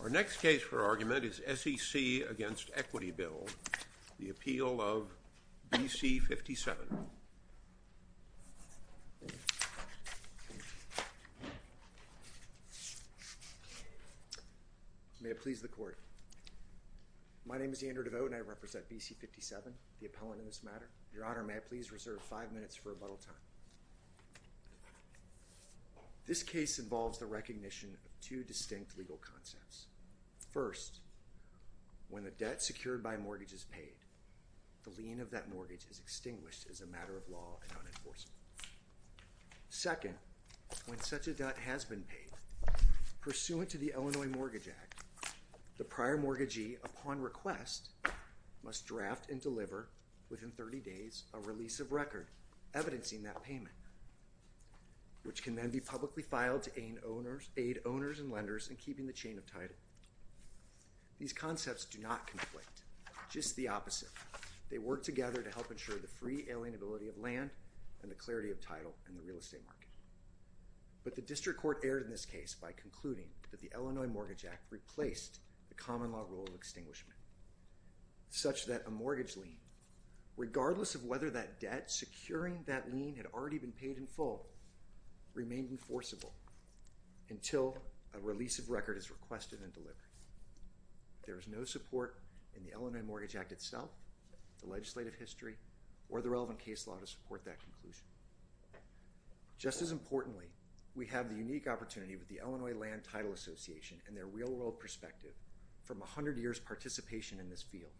Our next case for argument is SEC v. Equity Bill, the appeal of BC57. May it please the Court. My name is Andrew DeVoe and I represent BC57, the appellant in this matter. Your Honor, may I please reserve five minutes for rebuttal time. This case involves the recognition of two distinct legal concepts. First, when a debt secured by a mortgage is paid, the lien of that mortgage is extinguished as a matter of law and unenforceable. Second, when such a debt has been paid, pursuant to the Illinois Mortgage Act, the prior mortgagee upon request must draft and deliver, within 30 days, a release of record evidencing that payment, which can then be publicly filed to aid owners and lenders in keeping the chain of title. These concepts do not conflict, just the opposite. They work together to help ensure the free alienability of land and the clarity of title in the real estate market. But the District Court erred in this case by concluding that the Illinois Mortgage Act replaced the common law rule of extinguishment, such that a mortgage lien, regardless of whether that debt securing that lien had already been paid in full, remained enforceable until a release of record is requested and delivered. There is no support in the Illinois Mortgage Act itself, the legislative history, or the relevant case law to support that conclusion. Just as importantly, we have the unique opportunity with the Illinois Land Title Association and their real-world perspective, from a hundred years' participation in this field,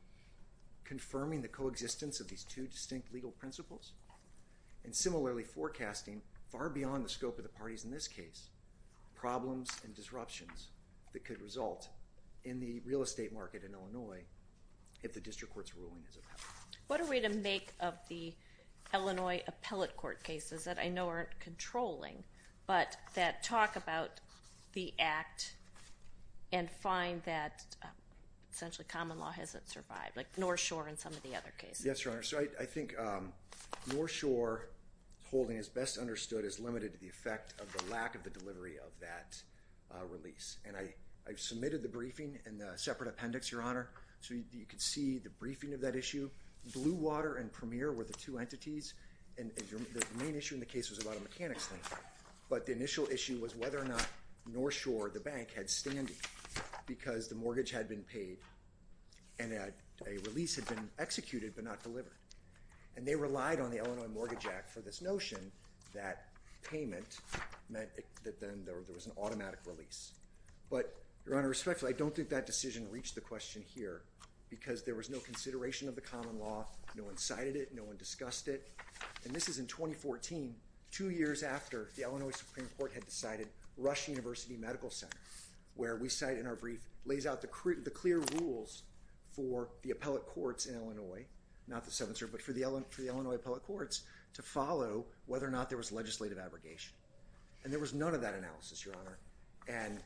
confirming the coexistence of these two distinct legal principles, and similarly forecasting, far beyond the scope of the parties in this case, problems and disruptions that could result in the real estate market in Illinois if the District Court's ruling is appellate. What are we to make of the Illinois appellate court cases that I know aren't controlling, but that talk about the act and find that essentially common law hasn't survived, like North Shore and some of the other cases? Yes, Your Honor, so I think North Shore holding is best understood as limited to the effect of the lack of the delivery of that release. And I've submitted the briefing in the separate appendix, Your Honor, so you can see the briefing of that issue. Blue Water and Premier were the two entities, and the main issue in the case was about a mechanics thing. But the initial issue was whether or not North Shore, the bank, had standing, because the mortgage had been paid, and a release had been executed but not delivered. And they relied on the Illinois Mortgage Act for this notion that payment meant that then there was an automatic release. But Your Honor, respectfully, I don't think that decision reached the question here, because there was no consideration of the common law, no one cited it, no one discussed it. And this is in 2014, two years after the Illinois Supreme Court had decided Rush University Medical Center, where we cite in our brief, lays out the clear rules for the appellate courts in Illinois, not the 7th Circuit, but for the Illinois appellate courts to follow whether or not there was legislative abrogation. And there was none of that analysis, Your Honor. And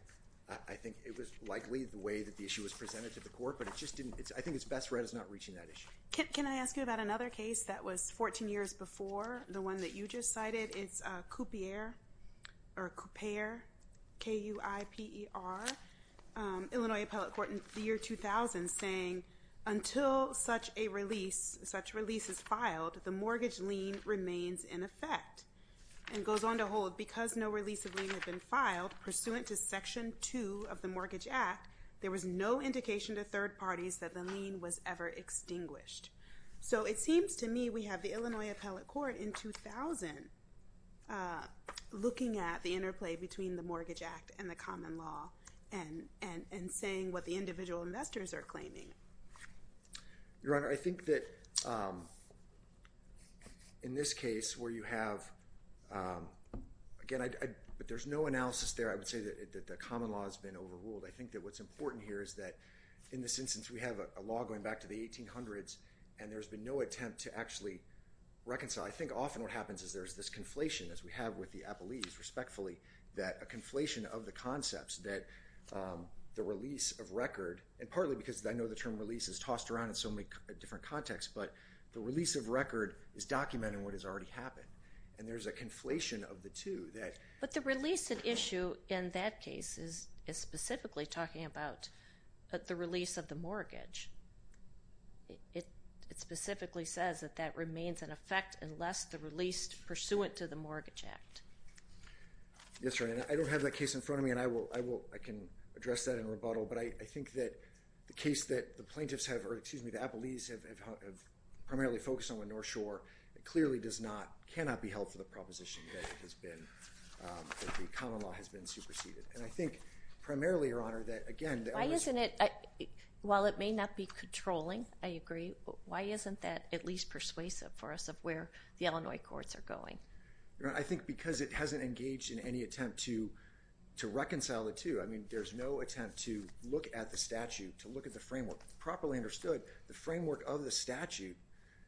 I think it was likely the way that the issue was presented to the court, but it just didn't, I think it's best read as not reaching that issue. Can I ask you about another case that was 14 years before, the one that you just cited? It's Coupier, or Coupier, K-U-I-P-E-R, Illinois Appellate Court in the year 2000, saying until such a release, such release is filed, the mortgage lien remains in effect, and goes on to hold, because no release of lien had been filed pursuant to Section 2 of the Mortgage Act, there was no indication to third parties that the lien was ever extinguished. So it seems to me we have the Illinois Appellate Court in 2000 looking at the interplay between the Mortgage Act and the common law, and saying what the individual investors are claiming. Your Honor, I think that in this case where you have, again, there's no analysis there, I would say that the common law has been overruled. I think that what's important here is that in this instance, we have a law going back to the 1800s, and there's been no attempt to actually reconcile. I think often what happens is there's this conflation, as we have with the Appellees, respectfully, that a conflation of the concepts that the release of record, and partly because I know the term release is tossed around in so many different contexts, but the release of record is documenting what has already happened, and there's a conflation of the two that... I'm not really talking about the release of the mortgage. It specifically says that that remains in effect unless the release pursuant to the Mortgage Act. Yes, Your Honor. I don't have that case in front of me, and I can address that in rebuttal, but I think that the case that the plaintiffs have, or excuse me, the Appellees have primarily focused on with North Shore, it clearly does not, cannot be held for the proposition that the common law has been superseded. And I think primarily, Your Honor, that again, that was... Why isn't it, while it may not be controlling, I agree, why isn't that at least persuasive for us of where the Illinois courts are going? I think because it hasn't engaged in any attempt to reconcile the two. I mean, there's no attempt to look at the statute, to look at the framework. Properly understood, the framework of the statute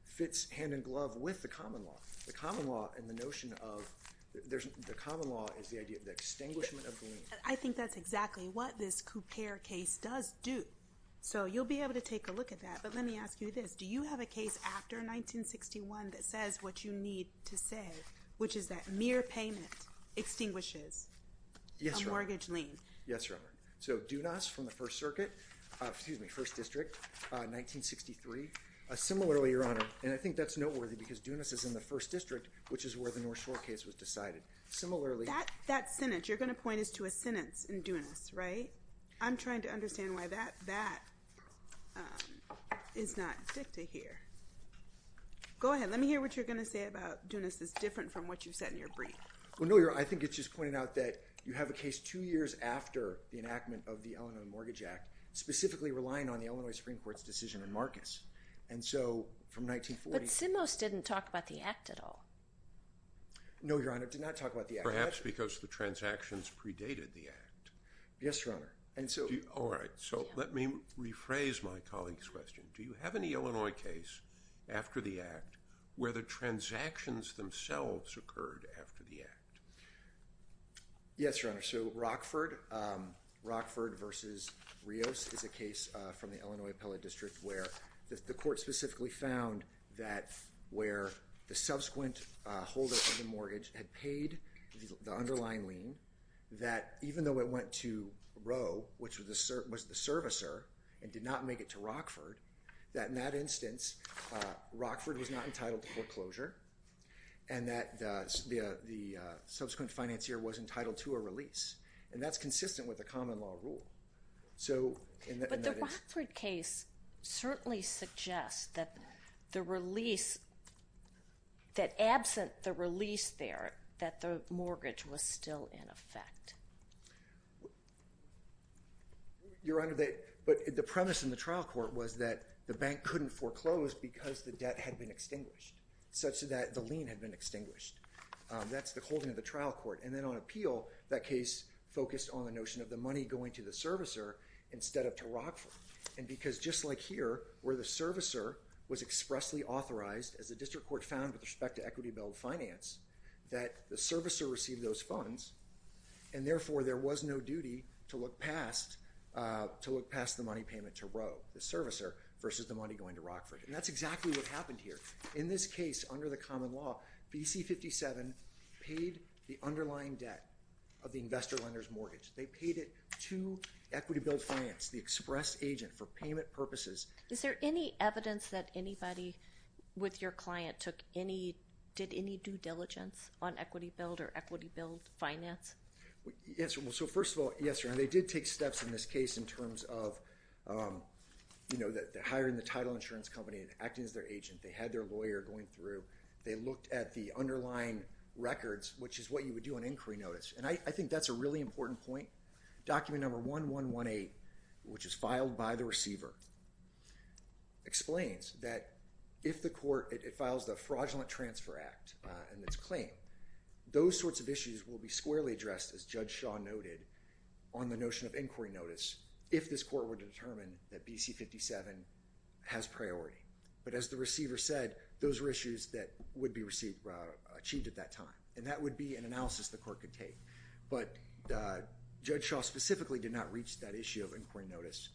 fits hand in glove with the common law. The common law and the notion of, the common law is the idea of the extinguishment of the lien. I think that's exactly what this Coupere case does do. So you'll be able to take a look at that, but let me ask you this. Do you have a case after 1961 that says what you need to say, which is that mere payment extinguishes a mortgage lien? Yes, Your Honor. So Dunas from the First Circuit, excuse me, First District, 1963, similarly, Your Honor, and I think that's noteworthy because Dunas is in the First District, which is where the North Shore case was decided. Similarly, That sentence, you're going to point us to a sentence in Dunas, right? I'm trying to understand why that is not dicta here. Go ahead. Let me hear what you're going to say about Dunas is different from what you've said in your brief. Well, no, Your Honor, I think it's just pointing out that you have a case two years after the enactment of the Illinois Mortgage Act, specifically relying on the Illinois Supreme Court's decision in Marcus. And so from 1940... But Simos didn't talk about the act at all. No, Your Honor, did not talk about the act. Perhaps because the transactions predated the act. Yes, Your Honor. And so... All right. So let me rephrase my colleague's question. Do you have any Illinois case after the act where the transactions themselves occurred after the act? Yes, Your Honor. So Rockford versus Rios is a case from the Illinois Appellate District where the court specifically found that where the subsequent holder of the mortgage had paid the underlying lien, that even though it went to Roe, which was the servicer, and did not make it to Rockford, that in that instance, Rockford was not entitled to foreclosure, and that the subsequent financier was entitled to a release. And that's consistent with the common law rule. So... But the Rockford case certainly suggests that the release... That absent the release there, that the mortgage was still in effect. Your Honor, but the premise in the trial court was that the bank couldn't foreclose because the debt had been extinguished, such that the lien had been extinguished. That's the holding of the trial court. And then on appeal, that case focused on the notion of the money going to the servicer instead of to Rockford. And because just like here, where the servicer was expressly authorized, as the district court found with respect to equity bill of finance, that the servicer received those funds, and therefore there was no duty to look past the money payment to Roe, the servicer, versus the money going to Rockford. And that's exactly what happened here. In this case, under the common law, BC57 paid the underlying debt of the investor lender's mortgage. They paid it to equity bill of finance, the express agent, for payment purposes. Is there any evidence that anybody with your client took any... Did any due diligence on equity bill or equity bill of finance? Yes, Your Honor. So first of all, yes, Your Honor. They did take steps in this case in terms of hiring the title insurance company and acting as their agent. They had their lawyer going through. They looked at the underlying records, which is what you would do on inquiry notice. And I think that's a really important point. Document number 1118, which is filed by the receiver, explains that if the court... It files the Fraudulent Transfer Act in its claim. Those sorts of issues will be squarely addressed, as Judge Shaw noted, on the notion of inquiry notice if this court were to determine that BC57 has priority. But as the receiver said, those are issues that would be achieved at that time. And that would be an analysis the court could take. But Judge Shaw specifically did not reach that issue of inquiry notice.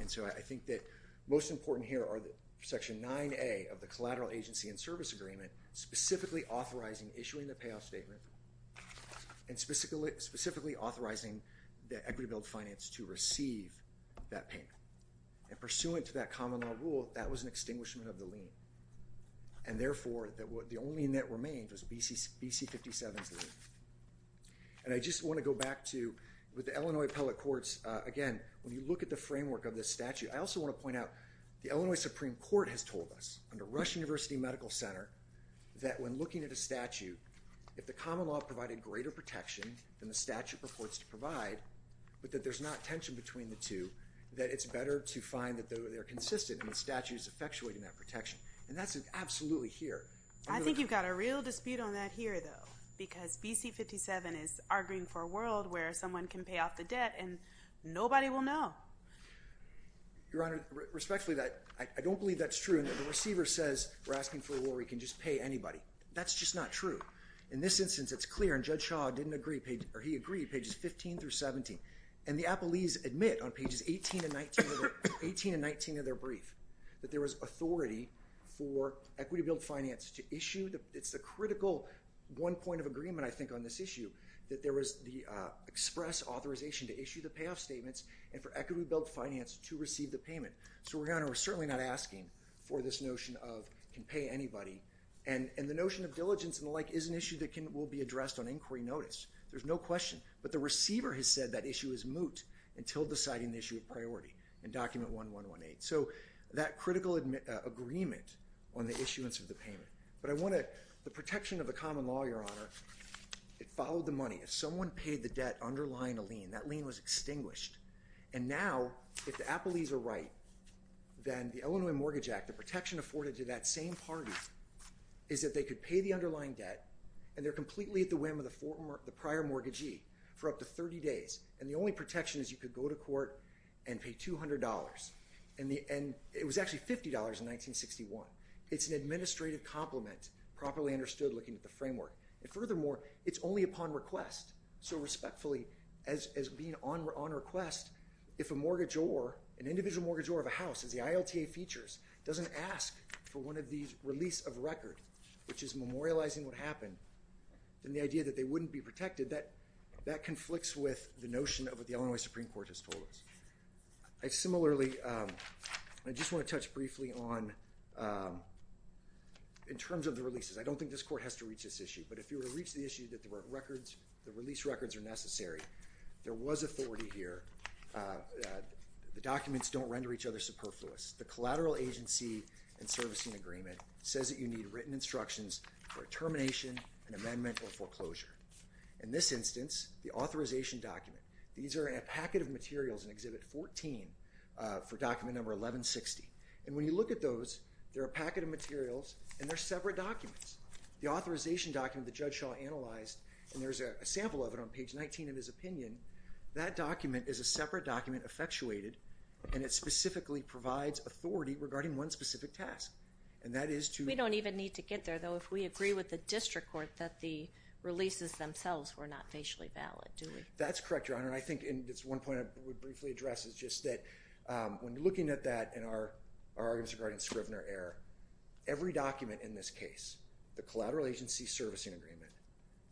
And so I think that most important here are Section 9A of the Collateral Agency and Service Agreement specifically authorizing issuing the payoff statement and specifically authorizing the equity bill of finance to receive that payment. And pursuant to that common law rule, that was an extinguishment of the lien. And therefore, the only net remained was BC57's lien. And I just want to go back to, with the Illinois Appellate Courts, again, when you look at the framework of this statute, I also want to point out the Illinois Supreme Court has told us, under Rush University Medical Center, that when looking at a statute, if the common law provided greater protection than the statute purports to provide, but that there's not a tension between the two, that it's better to find that they're consistent and the statute is effectuating that protection. And that's absolutely here. I think you've got a real dispute on that here, though, because BC57 is arguing for a world where someone can pay off the debt and nobody will know. Your Honor, respectfully, I don't believe that's true. And the receiver says we're asking for a world where we can just pay anybody. That's just not true. In this instance, it's clear, and Judge Shaw didn't agree, or he agreed, pages 15-17. And the appellees admit on pages 18 and 19 of their brief that there was authority for equity-billed finance to issue. It's the critical one point of agreement, I think, on this issue, that there was the express authorization to issue the payoff statements and for equity-billed finance to receive the payment. So, Your Honor, we're certainly not asking for this notion of can pay anybody. And the notion of diligence and the like is an issue that will be addressed on inquiry notice. There's no question. But the receiver has said that issue is moot until deciding the issue of priority in document 1118. So, that critical agreement on the issuance of the payment. But I want to, the protection of the common law, Your Honor, it followed the money. If someone paid the debt underlying a lien, that lien was extinguished. And now, if the appellees are right, then the Illinois Mortgage Act, the protection afforded to that same party, is that they could pay the underlying debt and they're up to 30 days. And the only protection is you could go to court and pay $200. And it was actually $50 in 1961. It's an administrative compliment, properly understood looking at the framework. And furthermore, it's only upon request. So respectfully, as being on request, if a mortgage or an individual mortgage or a house as the ILTA features doesn't ask for one of these release of record, which is memorializing what happened, then the idea that they wouldn't be protected, that conflicts with the notion of what the Illinois Supreme Court has told us. I similarly, I just want to touch briefly on, in terms of the releases, I don't think this court has to reach this issue, but if you were to reach the issue that the release records are necessary, there was authority here, the documents don't render each other superfluous. The collateral agency and servicing agreement says that you need written instructions for termination and amendment or foreclosure. In this instance, the authorization document, these are in a packet of materials in Exhibit 14 for document number 1160. And when you look at those, they're a packet of materials and they're separate documents. The authorization document that Judge Shaw analyzed, and there's a sample of it on page 19 of his opinion, that document is a separate document effectuated and it specifically provides authority regarding one specific task. And that is to- But it doesn't say to the district court that the releases themselves were not facially valid, do we? That's correct, Your Honor. And I think it's one point I would briefly address is just that when you're looking at that in our arguments regarding Scrivener error, every document in this case, the collateral agency servicing agreement,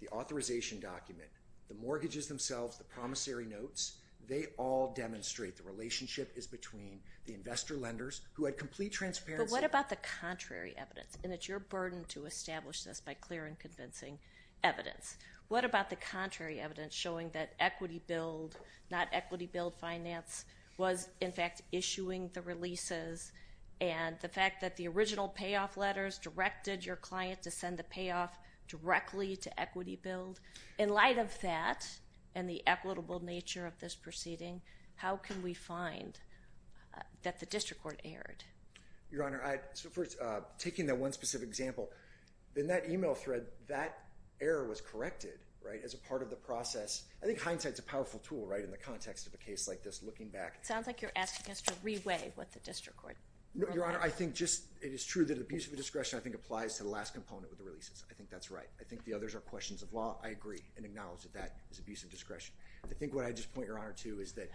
the authorization document, the mortgages themselves, the promissory notes, they all demonstrate the relationship is between the investor lenders who had complete transparency- But what about the contrary evidence? And it's your burden to establish this by clear and convincing evidence. What about the contrary evidence showing that Equity Build, not Equity Build Finance, was in fact issuing the releases and the fact that the original payoff letters directed your client to send the payoff directly to Equity Build? In light of that and the equitable nature of this proceeding, how can we find that the district court erred? Your Honor, taking that one specific example, in that email thread, that error was corrected as a part of the process. I think hindsight is a powerful tool in the context of a case like this, looking back- It sounds like you're asking us to re-weigh what the district court- No, Your Honor. I think just it is true that abuse of discretion I think applies to the last component with the releases. I think that's right. I think the others are questions of law. I agree and acknowledge that that is abuse of discretion. I think what I just point Your Honor to is that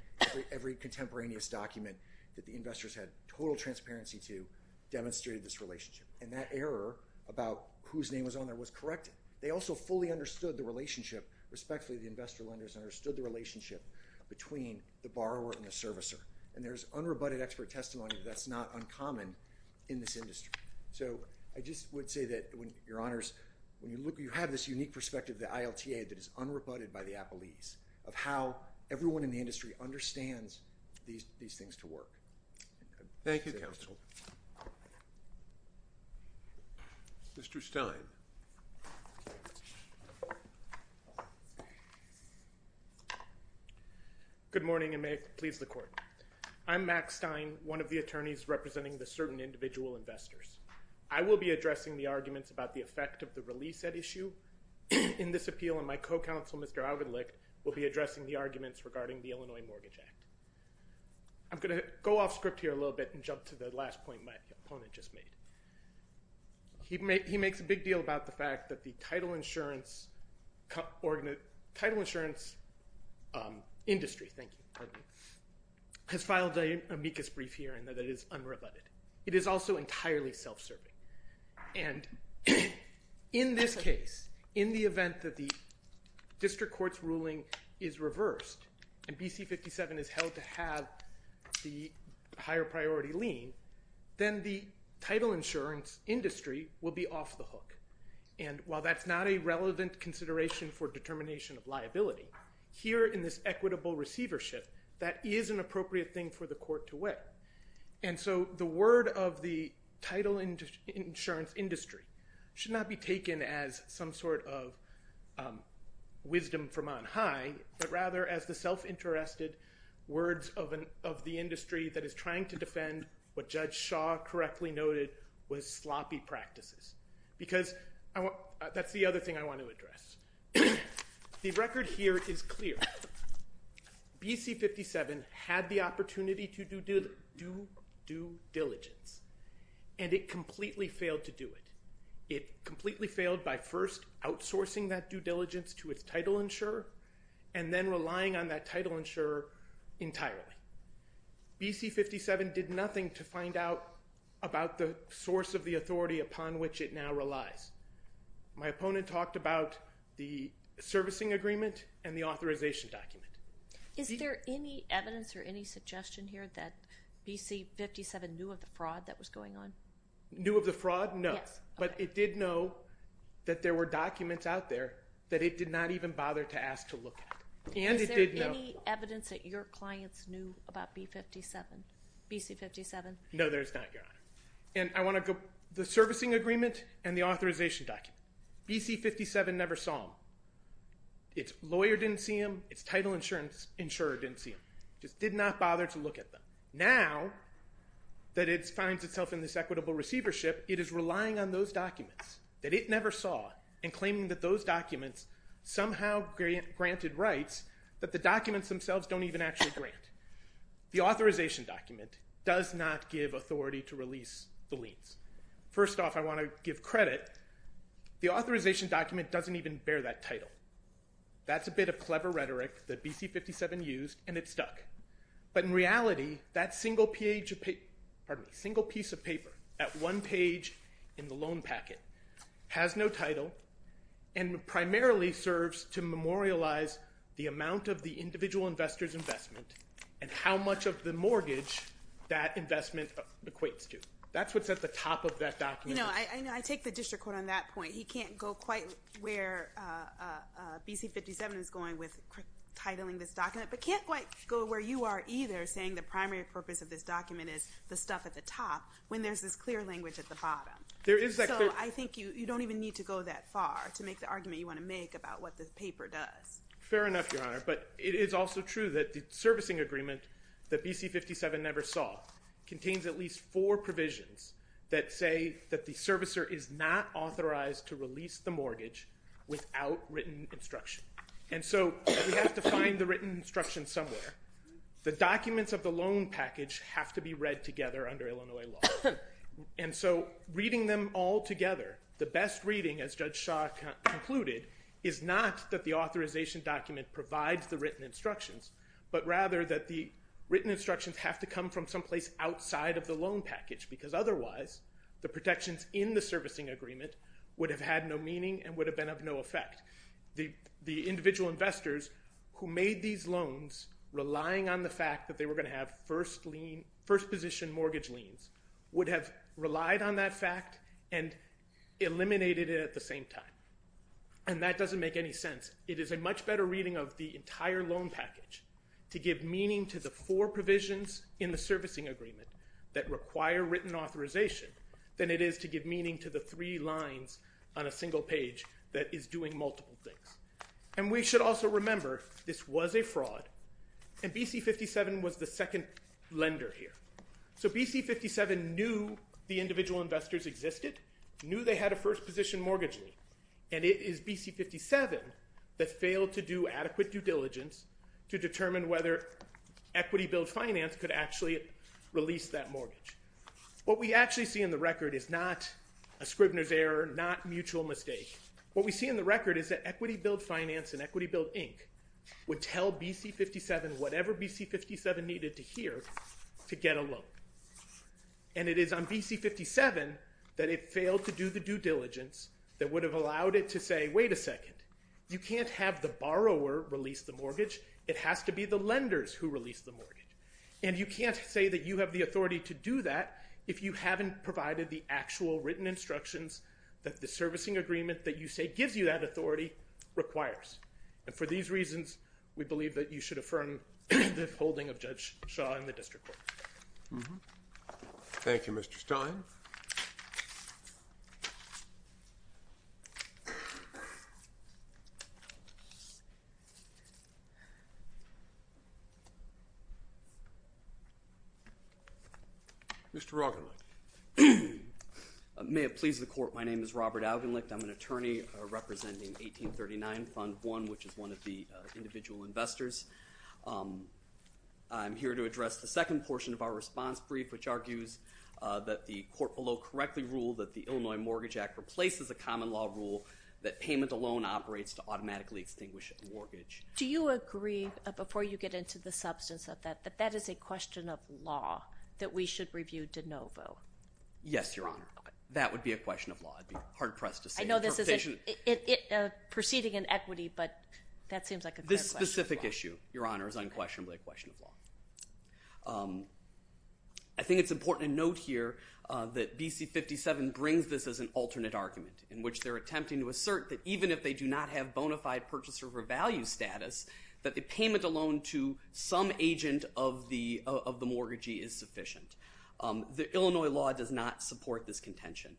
every contemporaneous document that the district court issued transparency to demonstrated this relationship, and that error about whose name was on there was corrected. They also fully understood the relationship, respectfully, the investor-lenders understood the relationship between the borrower and the servicer, and there's unrebutted expert testimony that that's not uncommon in this industry. So I just would say that, Your Honors, when you look, you have this unique perspective of the ILTA that is unrebutted by the appellees of how everyone in the industry understands these things to work. Thank you, Counsel. Mr. Stein. Good morning, and may it please the Court. I'm Max Stein, one of the attorneys representing the certain individual investors. I will be addressing the arguments about the effect of the release at issue in this appeal, and my co-counsel, Mr. Augenlicht, will be addressing the arguments regarding the Illinois Mortgage Act. I'm going to go off script here a little bit and jump to the last point my opponent just made. He makes a big deal about the fact that the title insurance industry has filed an amicus brief here and that it is unrebutted. It is also entirely self-serving, and in this case, in the event that the district court's review is reversed and BC57 is held to have the higher priority lien, then the title insurance industry will be off the hook. And while that's not a relevant consideration for determination of liability, here in this equitable receivership, that is an appropriate thing for the court to weigh. And so the word of the title insurance industry should not be taken as some sort of wisdom from on high, but rather as the self-interested words of the industry that is trying to defend what Judge Shaw correctly noted was sloppy practices. Because that's the other thing I want to address. The record here is clear. BC57 had the opportunity to do due diligence, and it completely failed to do it. It completely failed by first outsourcing that due diligence to its title insurer and then relying on that title insurer entirely. BC57 did nothing to find out about the source of the authority upon which it now relies. My opponent talked about the servicing agreement and the authorization document. Is there any evidence or any suggestion here that BC57 knew of the fraud that was going on? Knew of the fraud? No. But it did know that there were documents out there that it did not even bother to ask to look at. Is there any evidence that your clients knew about BC57? No, there's not, Your Honor. And I want to go to the servicing agreement and the authorization document. BC57 never saw them. Its lawyer didn't see them. Its title insurer didn't see them. It just did not bother to look at them. Now that it finds itself in this equitable receivership, it is relying on those documents that it never saw and claiming that those documents somehow granted rights that the documents themselves don't even actually grant. The authorization document does not give authority to release the liens. First off, I want to give credit. The authorization document doesn't even bear that title. That's a bit of clever rhetoric that BC57 used, and it stuck. But in reality, that single piece of paper at one page in the loan packet has no title and primarily serves to memorialize the amount of the individual investor's investment and how much of the mortgage that investment equates to. That's what's at the top of that document. I take the district court on that point. He can't go quite where BC57 is going with titling this document but can't quite go where you are either saying the primary purpose of this document is the stuff at the top when there's this clear language at the bottom. So I think you don't even need to go that far to make the argument you want to make about what the paper does. Fair enough, Your Honor, but it is also true that the servicing agreement that BC57 never saw contains at least four provisions that say that the servicer is not authorized to release the mortgage without written instruction. And so we have to find the written instruction somewhere. The documents of the loan package have to be read together under Illinois law. And so reading them all together, the best reading, as Judge Shaw concluded, is not that the authorization document provides the written instructions but rather that the written instructions have to come from someplace outside of the loan package because otherwise the protections in the servicing agreement would have had no meaning and would have been of no effect. The individual investors who made these loans relying on the fact that they were going to have first position mortgage liens would have relied on that fact and eliminated it at the same time. And that doesn't make any sense. It is a much better reading of the entire loan package to give meaning to the four provisions in the servicing agreement that require written authorization than it is to give meaning to the three lines on a single page that is doing multiple things. And we should also remember this was a fraud, and BC57 was the second lender here. So BC57 knew the individual investors existed, knew they had a first position mortgage lien, and it is BC57 that failed to do adequate due diligence to determine whether equity-billed finance could actually release that mortgage. What we actually see in the record is not a Scribner's error, not mutual mistake. What we see in the record is that equity-billed finance and equity-billed ink would tell BC57 whatever BC57 needed to hear to get a loan. And it is on BC57 that it failed to do the due diligence that would have allowed it to say, wait a second, you can't have the borrower release the mortgage. And you can't say that you have the authority to do that if you haven't provided the actual written instructions that the servicing agreement that you say gives you that authority requires. And for these reasons, we believe that you should affirm the holding of Judge Shaw in the district court. Thank you, Mr. Stein. Mr. Augenlicht. May it please the court, my name is Robert Augenlicht. I'm an attorney representing 1839 Fund 1, which is one of the individual investors. I'm here to address the second portion of our response brief, which argues that the court below correctly ruled that the Illinois Mortgage Act replaces a common law rule that payment alone operates to automatically extinguish a mortgage. Do you agree, before you get into the substance of that, that that is a question of law that we should review de novo? Yes, Your Honor. That would be a question of law. I'd be hard-pressed to say. I know this is a proceeding in equity, but that seems like a good question. It's a specific issue, Your Honor. It's unquestionably a question of law. I think it's important to note here that BC 57 brings this as an alternate argument in which they're attempting to assert that even if they do not have bona fide purchaser of value status, that the payment alone to some agent of the mortgagee is sufficient. The Illinois law does not support this contention.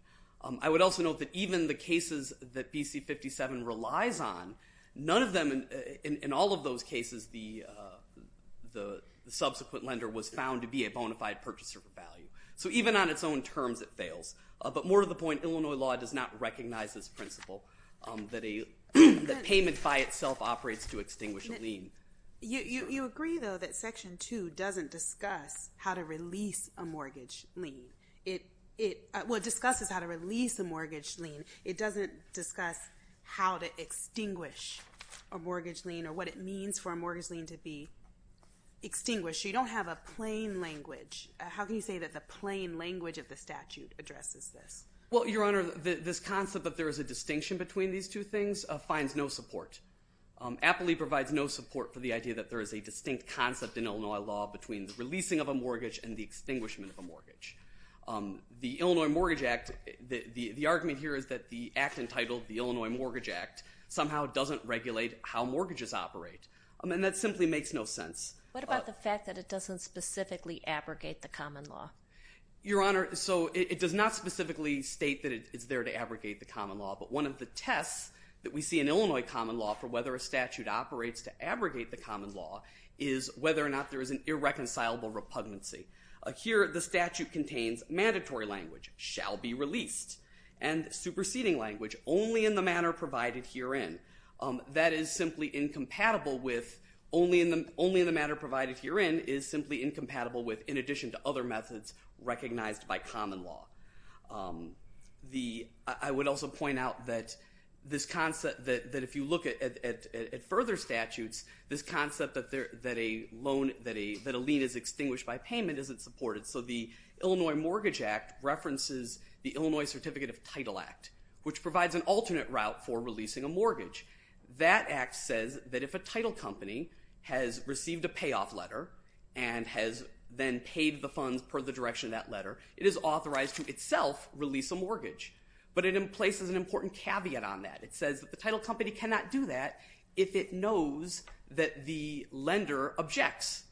I would also note that even the cases that BC 57 relies on, none of them in all of those cases the subsequent lender was found to be a bona fide purchaser of value. So even on its own terms it fails. But more to the point, Illinois law does not recognize this principle that payment by itself operates to extinguish a lien. You agree, though, that Section 2 doesn't discuss how to release a mortgage lien. Well, it discusses how to release a mortgage lien. It doesn't discuss how to extinguish a mortgage lien or what it means for a mortgage lien to be extinguished. So you don't have a plain language. How can you say that the plain language of the statute addresses this? Well, Your Honor, this concept that there is a distinction between these two things finds no support. Appley provides no support for the idea that there is a distinct concept in Illinois law between the releasing of a mortgage and the extinguishment of a mortgage. The Illinois Mortgage Act, the argument here is that the act entitled the Illinois Mortgage Act somehow doesn't regulate how mortgages operate, and that simply makes no sense. What about the fact that it doesn't specifically abrogate the common law? Your Honor, so it does not specifically state that it's there to abrogate the common law, but one of the tests that we see in Illinois common law for whether a statute operates to abrogate the common law is whether or not there is an irreconcilable repugnancy. Here the statute contains mandatory language, shall be released, and superseding language, only in the manner provided herein. That is simply incompatible with only in the manner provided herein is simply incompatible with in addition to other methods recognized by common law. I would also point out that this concept that if you look at further statutes, this concept that a loan, that a lien is extinguished by payment isn't supported. So the Illinois Mortgage Act references the Illinois Certificate of Title Act, which provides an alternate route for releasing a mortgage. That act says that if a title company has received a payoff letter and has then paid the funds per the direction of that letter, it is authorized to itself release a mortgage. But it places an important caveat on that. It says that the title company cannot do that if it knows that the lender objects.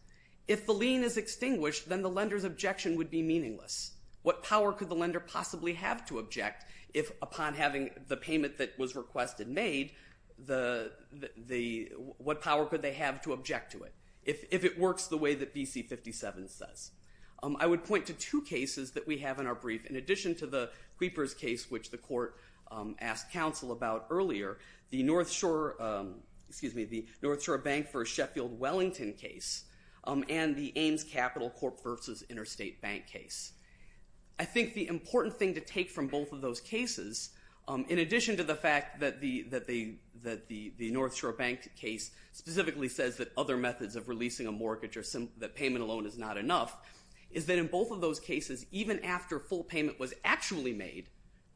If the lien is extinguished, then the lender's objection would be meaningless. What power could the lender possibly have to object if upon having the payment that was requested made, what power could they have to object to it if it works the way that BC 57 says? I would point to two cases that we have in our brief. In addition to the Creepers case, which the court asked counsel about earlier, the North Shore Bank v. Sheffield Wellington case and the Ames Capital Corp. v. Interstate Bank case. I think the important thing to take from both of those cases, in addition to the fact that the North Shore Bank case specifically says that other methods of releasing a mortgage or that payment alone is not enough, is that in both of those cases, even after full payment was actually made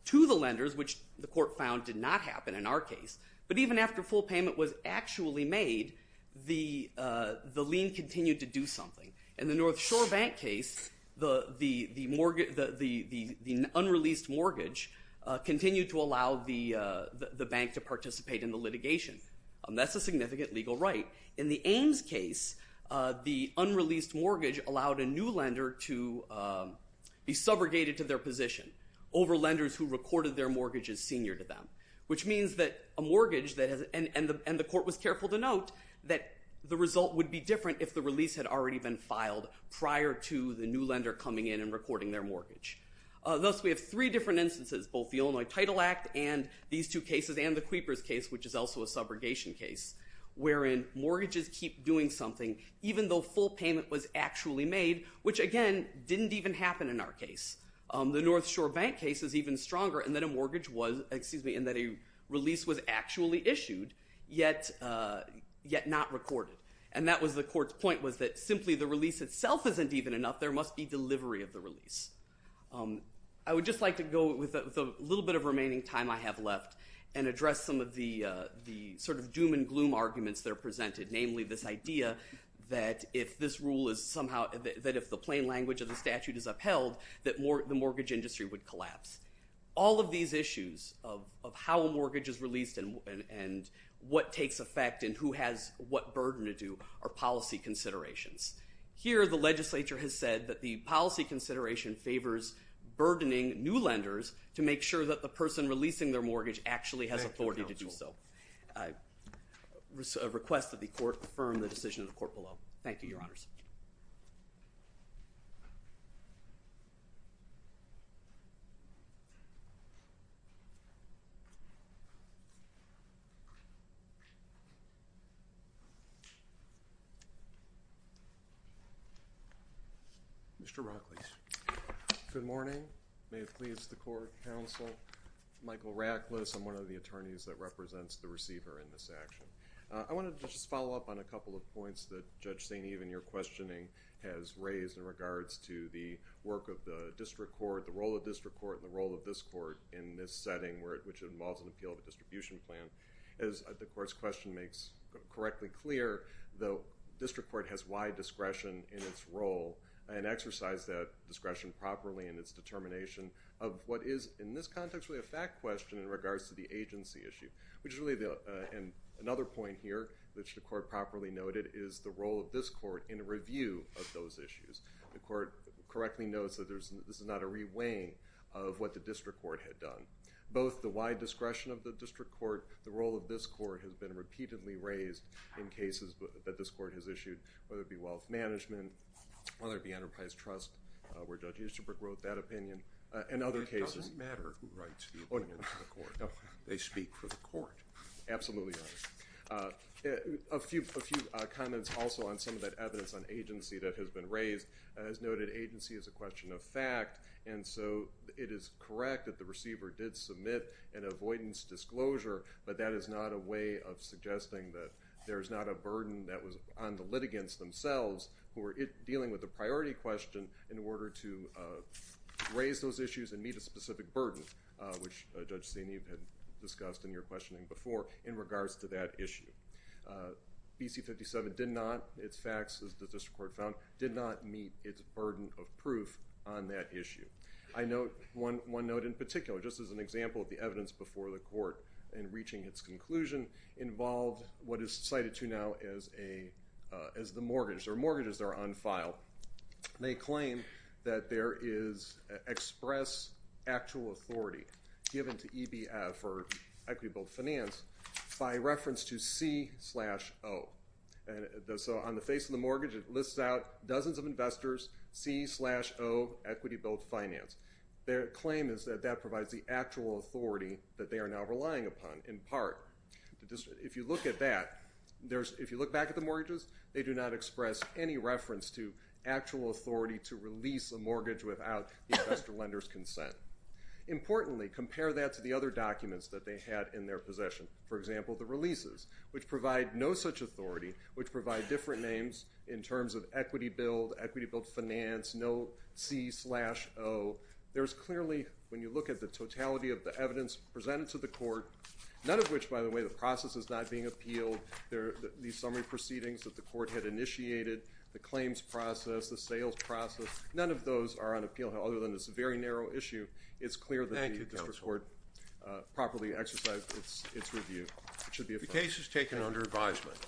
to the lenders, which the court found did not happen in our case, but even after full payment was actually made, the lien continued to do something. In the North Shore Bank case, the unreleased mortgage continued to allow the bank to participate in the litigation. That's a significant legal right. In the Ames case, the unreleased mortgage allowed a new lender to be subrogated to their position over lenders who recorded their mortgage as senior to them, which means that a mortgage, and the court was careful to note, that the result would be different if the release had already been filed prior to the new lender coming in and recording their mortgage. Thus, we have three different instances, both the Illinois Title Act and these two cases, and the Creepers case, which is also a subrogation case, wherein mortgages keep doing something even though full payment was actually made, which, again, didn't even happen in our case. The North Shore Bank case is even stronger in that a release was actually issued, yet not recorded. And that was the court's point, was that simply the release itself isn't even enough. There must be delivery of the release. I would just like to go with the little bit of remaining time I have left and address some of the sort of doom and gloom arguments that are presented, namely this idea that if this rule is somehow, that if the plain language of the statute is upheld, that the mortgage industry would collapse. All of these issues of how a mortgage is released and what takes effect and who has what burden to do are policy considerations. Here, the legislature has said that the policy consideration favors burdening new lenders to make sure that the person releasing their mortgage actually has authority to do so. I request that the court confirm the decision of the court below. Thank you, Your Honors. Mr. Rocklees. Good morning. May it please the court, counsel. Michael Rocklees. I'm one of the attorneys that represents the receiver in this action. I wanted to just follow up on a couple of points that Judge St. Even, your questioning, has raised in regards to the work of the district court, the role of district court, and the role of this court in this setting, which involves an appeal of a distribution plan. As the court's question makes correctly clear, the district court has wide discretion in its role and exercised that discretion properly in its determination of what is, in this context, really a fact question in regards to the agency issue, which is really another point here which the court properly noted is the role of this court in a review of those issues. The court correctly notes that this is not a reweighing of what the district court had done. Both the wide discretion of the district court, the role of this court, has been repeatedly raised in cases that this court has issued, whether it be wealth management, whether it be enterprise trust, where Judge Easterbrook wrote that opinion, and other cases. It doesn't matter who writes the opinion to the court. They speak for the court. Absolutely right. A few comments also on some of that evidence on agency that has been raised. As noted, agency is a question of fact, and so it is correct that the receiver did submit an avoidance disclosure, but that is not a way of suggesting that there is not a burden that was on the litigants themselves who were dealing with the priority question in order to raise those issues and meet a specific burden, which Judge Steney had discussed in your questioning before, in regards to that issue. BC-57 did not, its facts, as the district court found, did not meet its burden of proof on that issue. I note one note in particular, just as an example of the evidence before the court in reaching its conclusion, involved what is cited to now as the mortgage, or mortgages that are on file. They claim that there is express actual authority given to EBF, or equity-built finance, by reference to C-0. So on the face of the mortgage, it lists out dozens of investors, C-0, equity-built finance. Their claim is that that provides the actual authority that they are now relying upon, in part. If you look at that, if you look back at the mortgages, they do not express any reference to actual authority to release a mortgage without the investor lender's consent. Importantly, compare that to the other documents that they had in their possession. For example, the releases, which provide no such authority, which provide different names in terms of equity-built, equity-built finance, no C-0. There's clearly, when you look at the totality of the evidence presented to the court, none of which, by the way, the process is not being appealed. These summary proceedings that the court had initiated, the claims process, the sales process, none of those are on appeal, other than this very narrow issue. It's clear that the district court properly exercised its review. It should be affirmed. The case is taken under advisement.